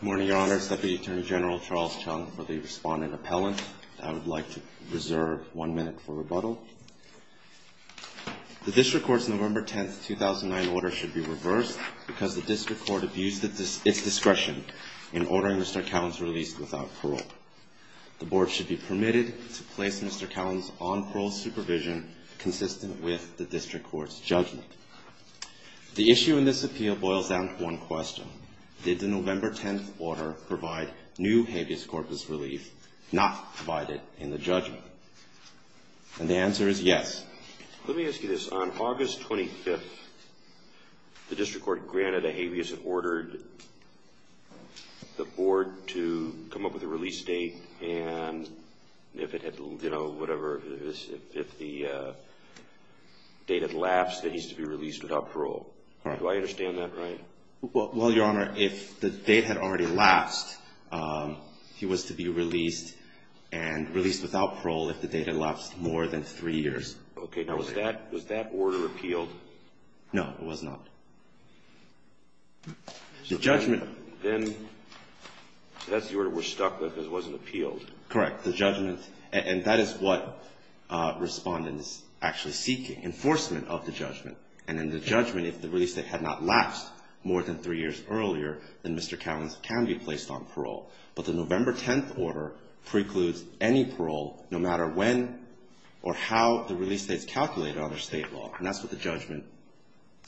Good morning, Your Honor. Deputy Attorney General Charles Chung for the respondent appellant. I would like to reserve one minute for rebuttal. The District Court's November 10, 2009 order should be reversed because the District Court abused its discretion in ordering Mr. Cowans released without parole. The Board should be permitted to place Mr. Cowans on parole supervision consistent with the District Court's judgment. The issue in this appeal boils down to one question. Did the November 10 order provide new habeas corpus relief not provided in the judgment? And the answer is yes. Let me ask you this. On August 25, the District Court granted a habeas and ordered the Board to come up with a release date and if it had, you know, whatever, if the date had lapsed, then he's to be released without parole. Do I understand that right? Well, Your Honor, if the date had already lapsed, he was to be released and released without parole if the date had lapsed more than three years. Okay. Now, was that order appealed? No, it was not. The judgment. Then that's the order we're stuck with if it wasn't appealed. Correct. The judgment, and that is what respondent is actually seeking, enforcement of the judgment. And in the judgment, if the release date had not lapsed more than three years earlier, then Mr. Cowens can be placed on parole. But the November 10 order precludes any parole, no matter when or how the release date is calculated under state law. And that's what the judgment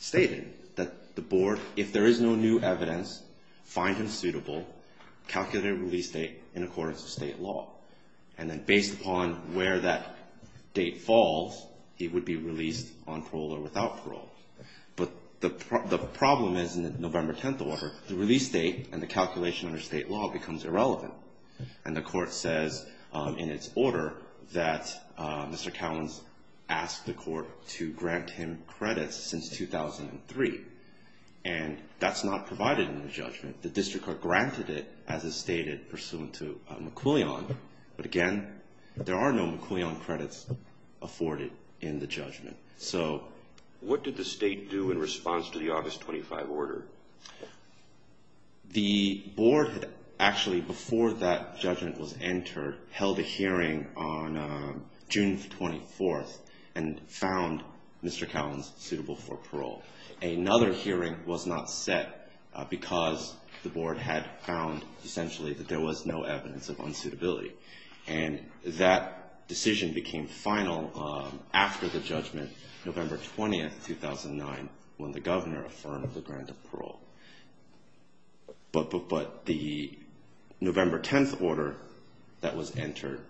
stated, that the Board, if there is no new evidence, find him suitable, calculate a release date in accordance with state law. And then based upon where that date falls, he would be released on parole or without parole. But the problem is in the November 10 order, the release date and the calculation under state law becomes irrelevant. And the court says in its order that Mr. Cowens asked the court to grant him credits since 2003. And that's not provided in the judgment. The district court granted it, as is stated, pursuant to McQuillian. But again, there are no McQuillian credits afforded in the judgment. So what did the state do in response to the August 25 order? The Board, actually, before that judgment was entered, held a hearing on June 24th and found Mr. Cowens suitable for parole. Another hearing was not set because the Board had found, essentially, that there was no evidence of unsuitability. And that decision became final after the judgment, November 20th, 2009, when the Governor affirmed the grant of parole. But the November 10 order that was entered,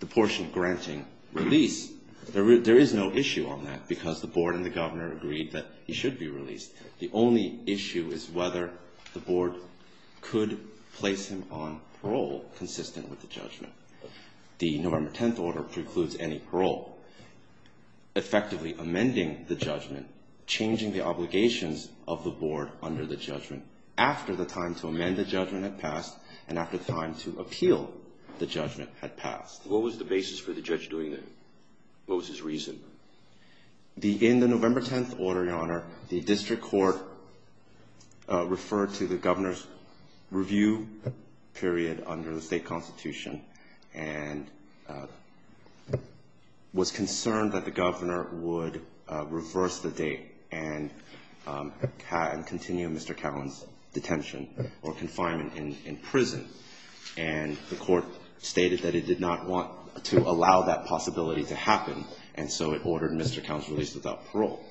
the portion granting release, there is no issue on that because the Board and the Governor agreed that he should be released. The only issue is whether the Board could place him on parole consistent with the judgment. The November 10 order precludes any parole, effectively amending the judgment, changing the obligations of the Board under the judgment after the time to amend the judgment had passed and after time to appeal the judgment had passed. What was the basis for the judge doing that? What was his reason? In the November 10 order, Your Honor, the district court referred to the Governor's review period under the State Constitution and was concerned that the Governor would reverse the date and continue Mr. Cowens' detention or confinement in prison. And the court stated that it did not want to allow that possibility to happen and so it ordered Mr. Cowens released without parole.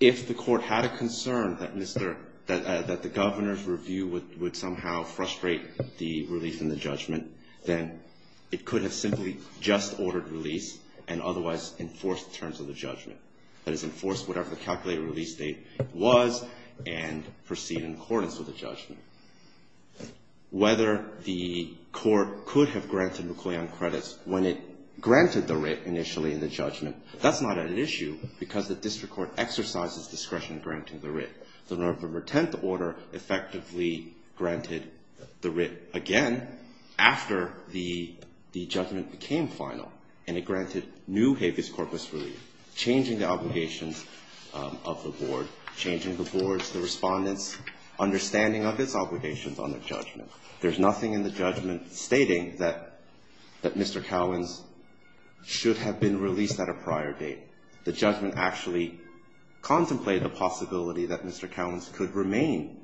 If the court had a concern that the Governor's review would somehow frustrate the release and the judgment, then it could have simply just ordered release and otherwise enforced the terms of the judgment. That is, enforce whatever the calculated release date was and proceed in accordance with the judgment. Whether the court could have granted McClellan credits when it granted the credit initially in the judgment, that's not an issue because the district court exercises discretion granting the writ. The November 10 order effectively granted the writ again after the judgment became final and it granted new habeas corpus relief, changing the obligations of the Board, changing the Board's, the Respondent's understanding of its obligations under judgment. There's nothing in the judgment stating that Mr. Cowens should have been released at a prior date. The judgment actually contemplated the possibility that Mr. Cowens could remain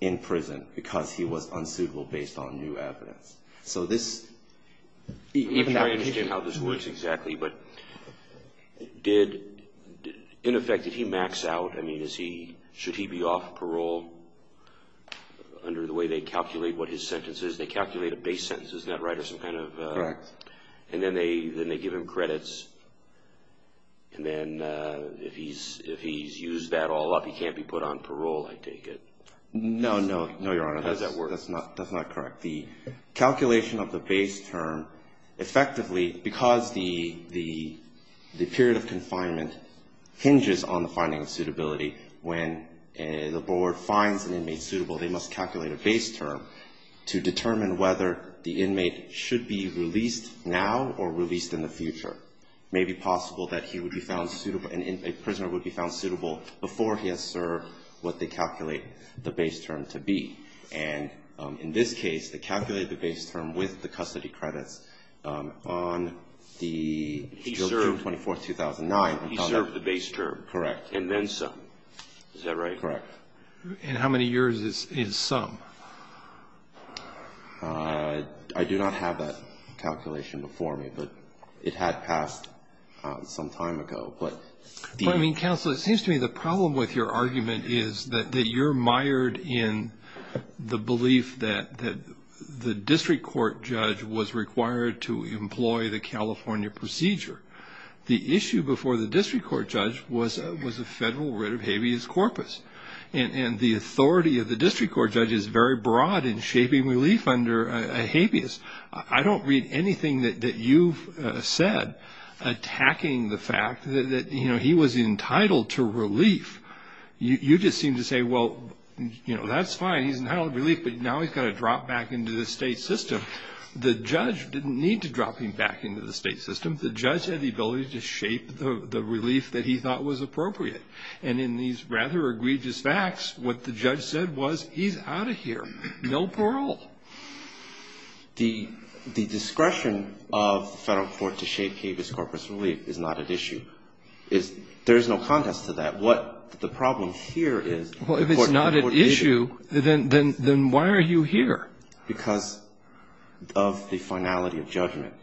in prison because he was unsuitable based on new evidence. So this, even though I understand how this works exactly, but did, in effect, did he max out? I mean, is he, should he be off parole under the way they calculate what his sentence is? They calculate a base sentence, isn't that right, or some kind of? Correct. And then they give him credits and then if he's used that all up, he can't be put on parole, I take it? No, no, no, Your Honor. How does that work? That's not correct. The calculation of the base term effectively, because the period of confinement hinges on the finding of suitability, when the Board finds an inmate suitable, they must calculate a base term to determine whether the inmate should be released now or released in the future. It may be possible that he would be found suitable, a prisoner would be found suitable before he has served what they calculate the base term to be. And in this case, they calculated the base term with the custody credits on the June 24th, 2009. He served the base term. Correct. And then some. Is that right? Correct. And how many years is some? I do not have that calculation before me, but it had passed some time ago. But, I mean, Counselor, it seems to me the problem with your argument is that you're mired in the belief that the district court judge was required to employ the California procedure. The issue before the district court judge was a federal writ of habeas corpus. And the authority of the district court judge is very broad in shaping relief under a habeas. I don't read anything that you've said attacking the fact that, you know, he was entitled to relief. You just seem to say, well, you know, that's fine, he's entitled to relief, but now he's got to drop back into the state system. The judge didn't need to drop him back into the state system. The judge had the ability to shape the relief that he thought was appropriate. And in these rather egregious facts, what the judge said was, he's out of here. No parole. The discretion of the federal court to shape habeas corpus relief is not at issue. There is no contest to that. What the problem here is. Well, if it's not at issue, then why are you here? Because of the finality of judgment.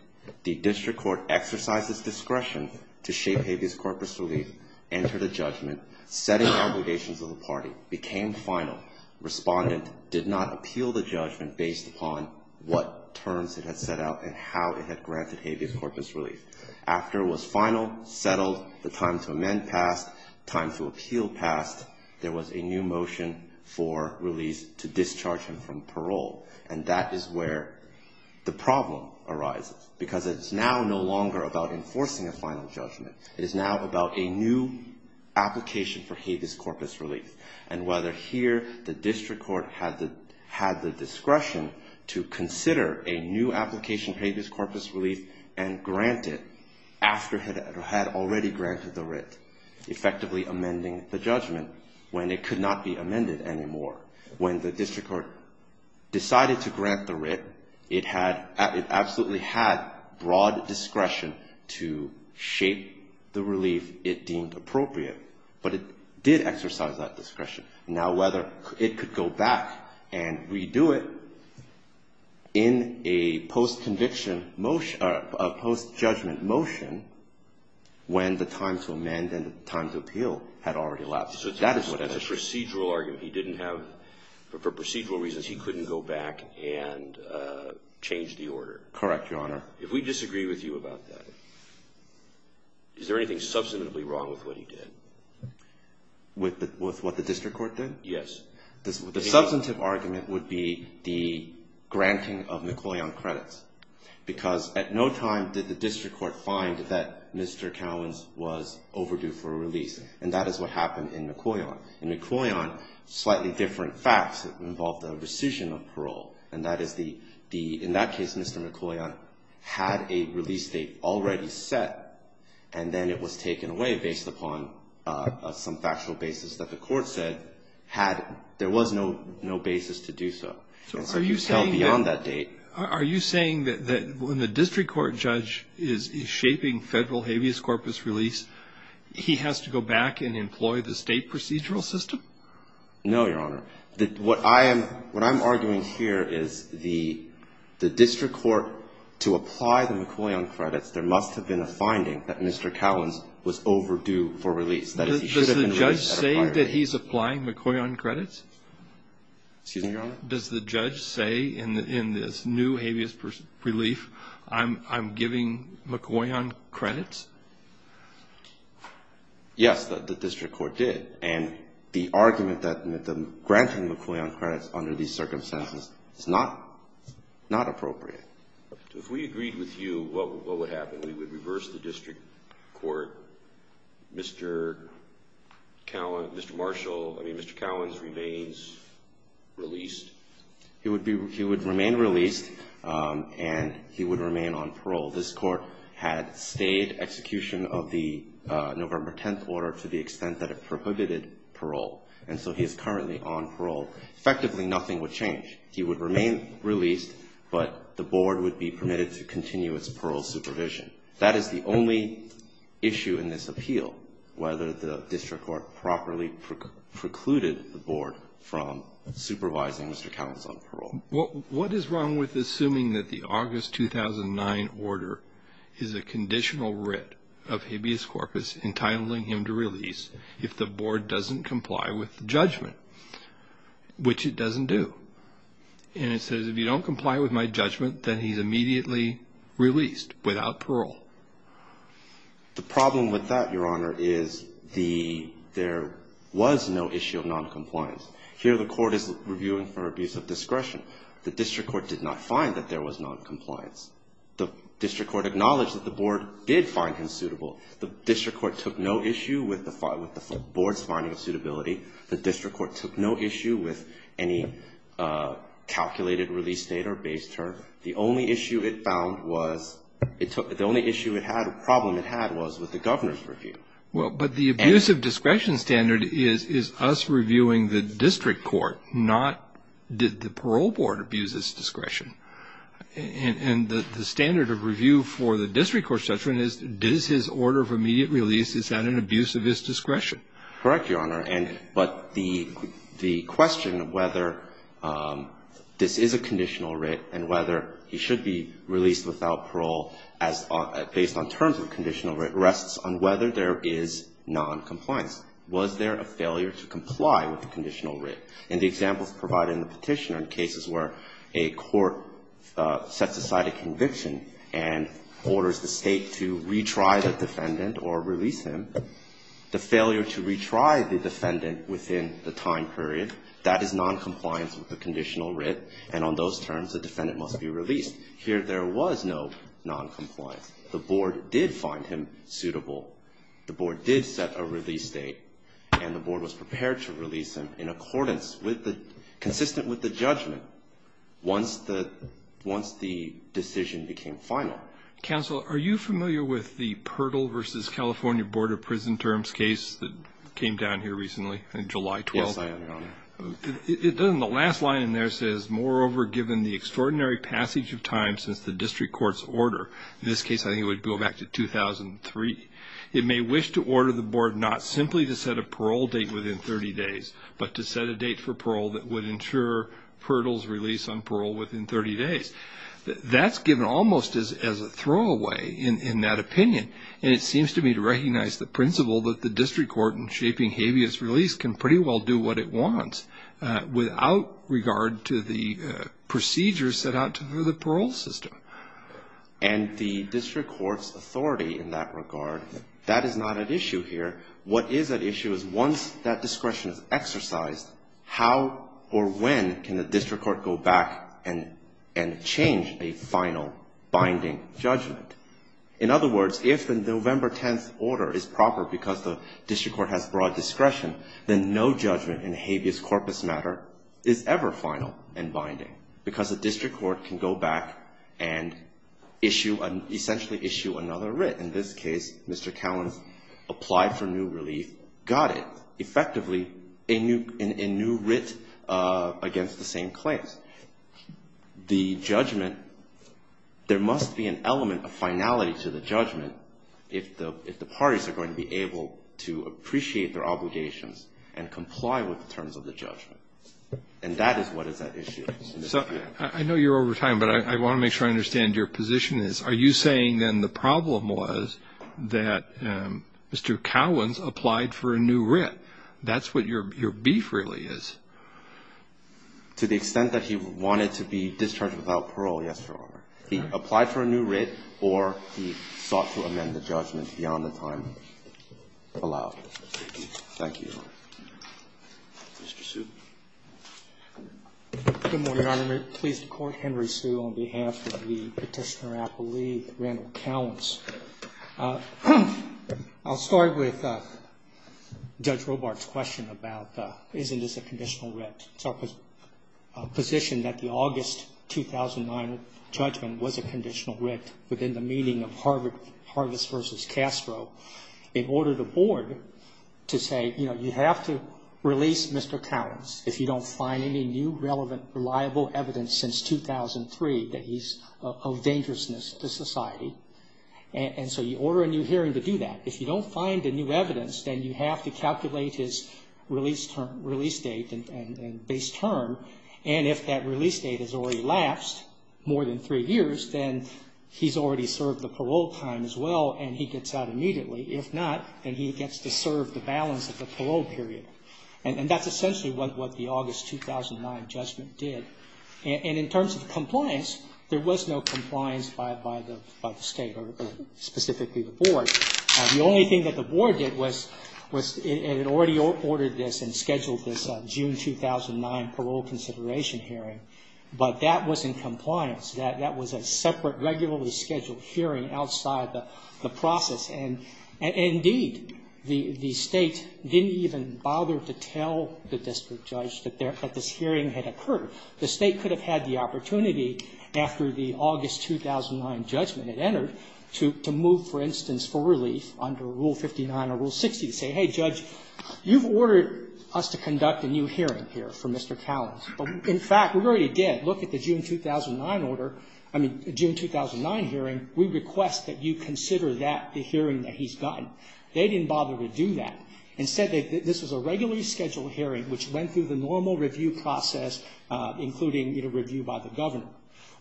The district court exercised its discretion to shape habeas corpus relief, entered a judgment, setting obligations of the party, became final, responded, did not appeal the judgment based upon what terms it had set out and how it had granted habeas corpus relief. After it was final, settled, the time to amend passed, time to appeal passed, there was a new motion for release to discharge him from parole. And that is where the problem arises. Because it's now no longer about enforcing a final judgment. It is now about a new application for habeas corpus relief. And whether here the district court had the discretion to consider a new application for habeas corpus relief and grant it after it had already granted the writ, effectively amending the judgment when it could not be amended anymore. When the district court decided to grant the writ, it absolutely had broad discretion to shape the relief it deemed appropriate. But it did exercise that discretion. Now, whether it could go back and redo it in a post-conviction motion or a post-judgment motion when the time to amend and the time to appeal had already lapsed. That is what the issue is. So that's a procedural argument. He didn't have, for procedural reasons, he couldn't go back and change the order. Correct, Your Honor. If we disagree with you about that, is there anything substantively wrong with what he did? With what the district court did? Yes. The substantive argument would be the granting of McClellan credits. Because at no time did the district court find that Mr. Cowens was overdue for a release. And that is what happened in McClellan. In McClellan, slightly different facts involved a rescission of parole. And that is the, in that case, Mr. McClellan had a release date already set. And then it was taken away based upon some factual basis that the court said had, there was no basis to do so. So are you saying beyond that date? Are you saying that when the district court judge is shaping federal habeas corpus release, he has to go back and employ the state procedural system? No, Your Honor. What I'm arguing here is the district court, to apply the McClellan credits, there must have been a finding that Mr. Cowens was overdue for release. Does the judge say that he's applying McClellan credits? Excuse me, Your Honor? Does the judge say in this new habeas relief, I'm giving McClellan credits? Yes, the district court did. And the argument that the granting of McClellan credits under these circumstances is not appropriate. If we agreed with you, what would happen? We would reverse the district court, Mr. Cowens remains released? He would remain released and he would remain on parole. This court had stayed execution of the November 10th order to the extent that it prohibited parole. And so he is currently on parole. Effectively, nothing would change. He would remain released, but the board would be permitted to continue its parole supervision. That is the only issue in this appeal, whether the district court properly precluded the board from supervising Mr. Cowens on parole. What is wrong with assuming that the August 2009 order is a conditional writ of habeas corpus entitling him to release if the board doesn't comply with judgment, which it doesn't do. And it says if you don't comply with my judgment, then he's immediately released without parole. The problem with that, Your Honor, is there was no issue of noncompliance. Here the court is reviewing for abuse of discretion. The district court did not find that there was noncompliance. The district court acknowledged that the board did find him suitable. The district court took no issue with the board's finding of suitability. The district court took no issue with any calculated release date or base term. The only issue it found was, the only issue it had, problem it had was with the governor's review. Well, but the abuse of discretion standard is us reviewing the district court, not did the parole board abuse its discretion. And the standard of review for the district court's judgment is, does his order of immediate release, is that an abuse of his discretion? Correct, Your Honor. And but the question of whether this is a conditional writ and whether he should be released without parole based on terms of conditional writ rests on whether there is noncompliance. Was there a failure to comply with the conditional writ? And the examples provided in the petition are cases where a court sets aside a conviction and orders the State to retry the defendant or release him. The failure to retry the defendant within the time period, that is noncompliance with the conditional writ. And on those terms, the defendant must be released. Here there was no noncompliance. The board did find him suitable. The board did set a release date. And the board was prepared to release him in accordance with the, consistent with the judgment once the decision became final. Counsel, are you familiar with the Pirtle v. California Board of Prison Terms case that came down here recently on July 12th? Yes, I am, Your Honor. The last line in there says, moreover given the extraordinary passage of time since the district court's order, in this case I think it would go back to 2003, it may wish to order the board not simply to set a parole date within 30 days, but to set a date for parole that would ensure Pirtle's release on parole within 30 days. That's given almost as a throwaway in that opinion. And it seems to me to recognize the principle that the district court in shaping habeas release can pretty well do what it wants without regard to the procedures set out to the parole system. And the district court's authority in that regard, that is not at issue here. What is at issue is once that discretion is exercised, how or when can the district court go back and change a final binding judgment? In other words, if the November 10th order is proper because the district court has broad discretion, then no judgment in habeas corpus matter is ever final and essentially issue another writ. In this case, Mr. Callan applied for new relief, got it. Effectively, a new writ against the same claims. The judgment, there must be an element of finality to the judgment if the parties are going to be able to appreciate their obligations and comply with the terms of the judgment. And that is what is at issue. So I know you're over time, but I want to make sure I understand your position is. Are you saying then the problem was that Mr. Callan applied for a new writ? That's what your beef really is. To the extent that he wanted to be discharged without parole, yes, Your Honor. He applied for a new writ or he sought to amend the judgment beyond the time allowed. Thank you. Thank you. Mr. Hsu. Good morning, Your Honor. I'm pleased to court Henry Hsu on behalf of the Petitioner Appellee, Randall Callans. I'll start with Judge Robart's question about isn't this a conditional writ. It's our position that the August 2009 judgment was a conditional writ within the meaning of Harvis v. Castro. In order to board, to say, you know, you have to release Mr. Callans if you don't find any new relevant reliable evidence since 2003 that he's of dangerousness to society. And so you order a new hearing to do that. If you don't find a new evidence, then you have to calculate his release date and base term. And if that release date has already lapsed more than three years, then he's already served the parole time as well and he gets out immediately. If not, then he gets to serve the balance of the parole period. And that's essentially what the August 2009 judgment did. And in terms of compliance, there was no compliance by the state or specifically the board. The only thing that the board did was it had already ordered this and scheduled this June 2009 parole consideration hearing. But that was in compliance. That was a separate, regularly scheduled hearing outside the process. And indeed, the State didn't even bother to tell the district judge that this hearing had occurred. The State could have had the opportunity after the August 2009 judgment had entered to move, for instance, for relief under Rule 59 or Rule 60 to say, hey, Judge, you've ordered us to conduct a new hearing here for Mr. Callans. But in fact, we already did. Look at the June 2009 order, I mean, June 2009 hearing. We request that you consider that the hearing that he's gotten. They didn't bother to do that. Instead, this was a regularly scheduled hearing which went through the normal review process, including, you know, review by the governor.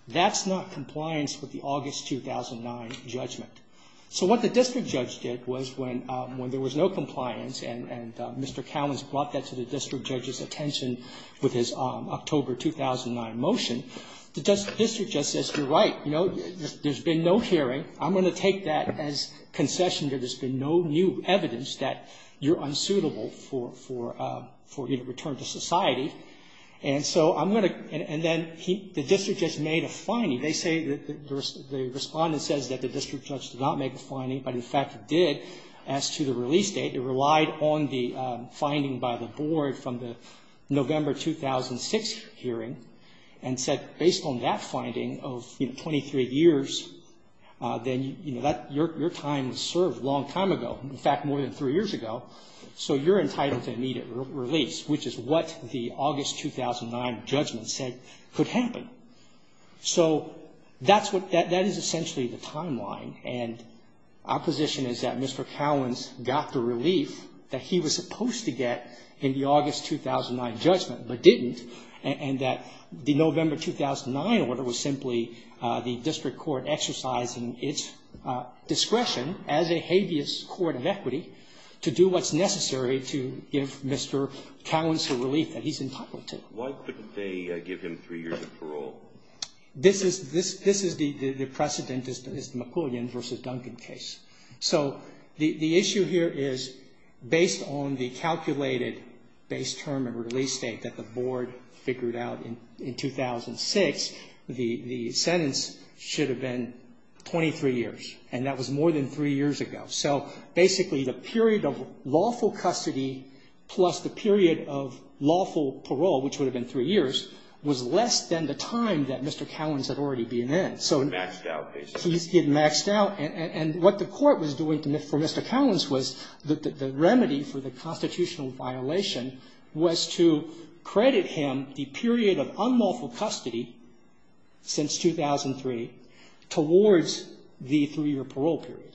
That's not compliance with the August 2009 judgment. So what the district judge did was when there was no compliance and Mr. Callans brought that to the district judge's attention with his October 2009 motion, the district judge says, you're right. You know, there's been no hearing. I'm going to take that as concession that there's been no new evidence that you're unsuitable for, you know, return to society. And so I'm going to – and then the district judge made a finding. They say – the Respondent says that the district judge did not make a finding, but in fact it did as to the release date. It relied on the finding by the board from the November 2006 hearing and said, based on that finding of, you know, 23 years, then, you know, that – your time served a long time ago, in fact, more than three years ago. So you're entitled to immediate release, which is what the August 2009 judgment said could happen. So that's what – that is essentially the timeline. And our position is that Mr. Callans got the relief that he was supposed to get in the August 2009 judgment, but didn't, and that the November 2009 order was simply the district court exercising its discretion as a habeas court of equity to do what's necessary to give Mr. Callans the relief that he's entitled to. Why couldn't they give him three years of parole? This is – the precedent is the McCoolian v. Duncan case. So the issue here is based on the calculated base term and release date that the board figured out in 2006, the sentence should have been 23 years, and that was more than three years ago. So basically the period of lawful custody plus the period of lawful parole, which would have been three years, was less than the time that Mr. Callans had already been in. So he's getting maxed out. And what the court was doing for Mr. Callans was the remedy for the constitutional violation was to credit him the period of unlawful custody since 2003 towards the three-year parole period.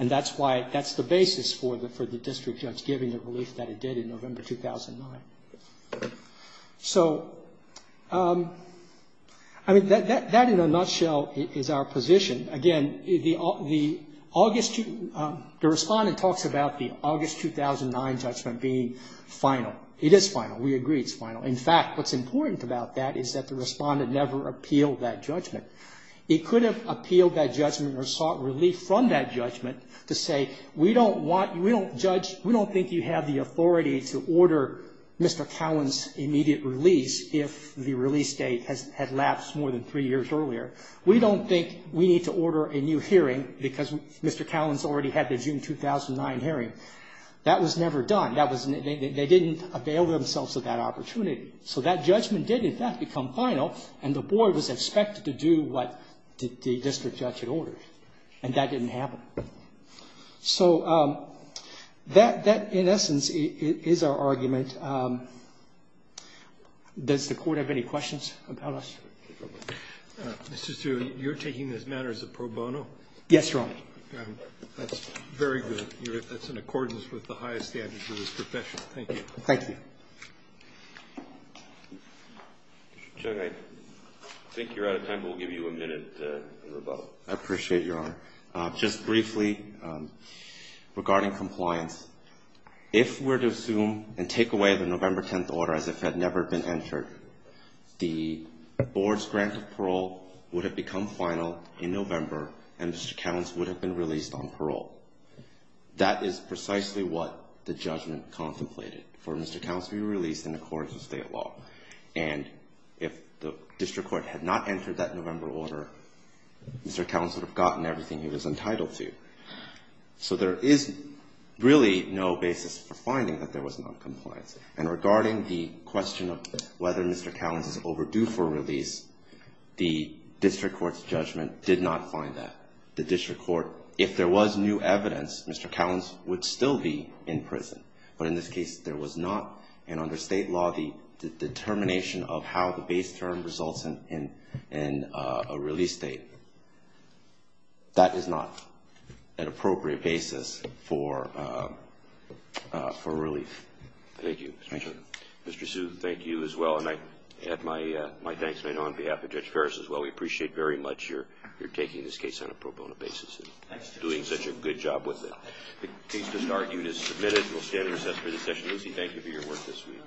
And that's why – that's the basis for the district judge giving the relief that it did in November 2009. So, I mean, that in a nutshell is our position. Again, the August – the Respondent talks about the August 2009 judgment being final. It is final. We agree it's final. In fact, what's important about that is that the Respondent never appealed that judgment. It could have appealed that judgment or sought relief from that judgment to say, We don't want – we don't judge – we don't think you have the authority to order Mr. Callans' immediate release if the release date had lapsed more than three years earlier. We don't think we need to order a new hearing because Mr. Callans already had the June 2009 hearing. That was never done. That was – they didn't avail themselves of that opportunity. So that judgment did, in fact, become final, and the board was expected to do what the district judge had ordered. And that didn't happen. So that, in essence, is our argument. Does the court have any questions about us? Mr. Stewart, you're taking this matter as a pro bono? Yes, Your Honor. That's very good. That's in accordance with the highest standards of this profession. Thank you. Thank you. Mr. Chung, I think you're out of time. We'll give you a minute to rebuttal. I appreciate it, Your Honor. Just briefly, regarding compliance, if we're to assume and take away the November 10th order as if it had never been entered, the board's grant of parole would have become final in November, and Mr. Callans would have been released on parole. That is precisely what the judgment contemplated, for Mr. Callans to be released in accordance with state law. And if the district court had not entered that November order, Mr. Callans would have gotten everything he was entitled to. So there is really no basis for finding that there was noncompliance. And regarding the question of whether Mr. Callans is overdue for release, the district court's judgment did not find that. The district court, if there was new evidence, Mr. Callans would still be in prison. But in this case, there was not, and under state law, the determination of how the state, that is not an appropriate basis for relief. Thank you, Mr. Chairman. Thank you. Mr. Hsu, thank you as well. And I add my thanks on behalf of Judge Ferris as well. We appreciate very much your taking this case on a pro bono basis and doing such a good job with it. The case has been argued and submitted. We'll stand and recess for this session. Lucy, thank you for your work this week.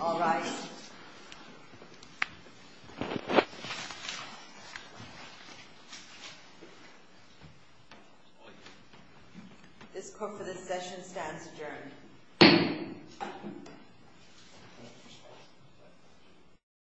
All rise. This court for this session stands adjourned.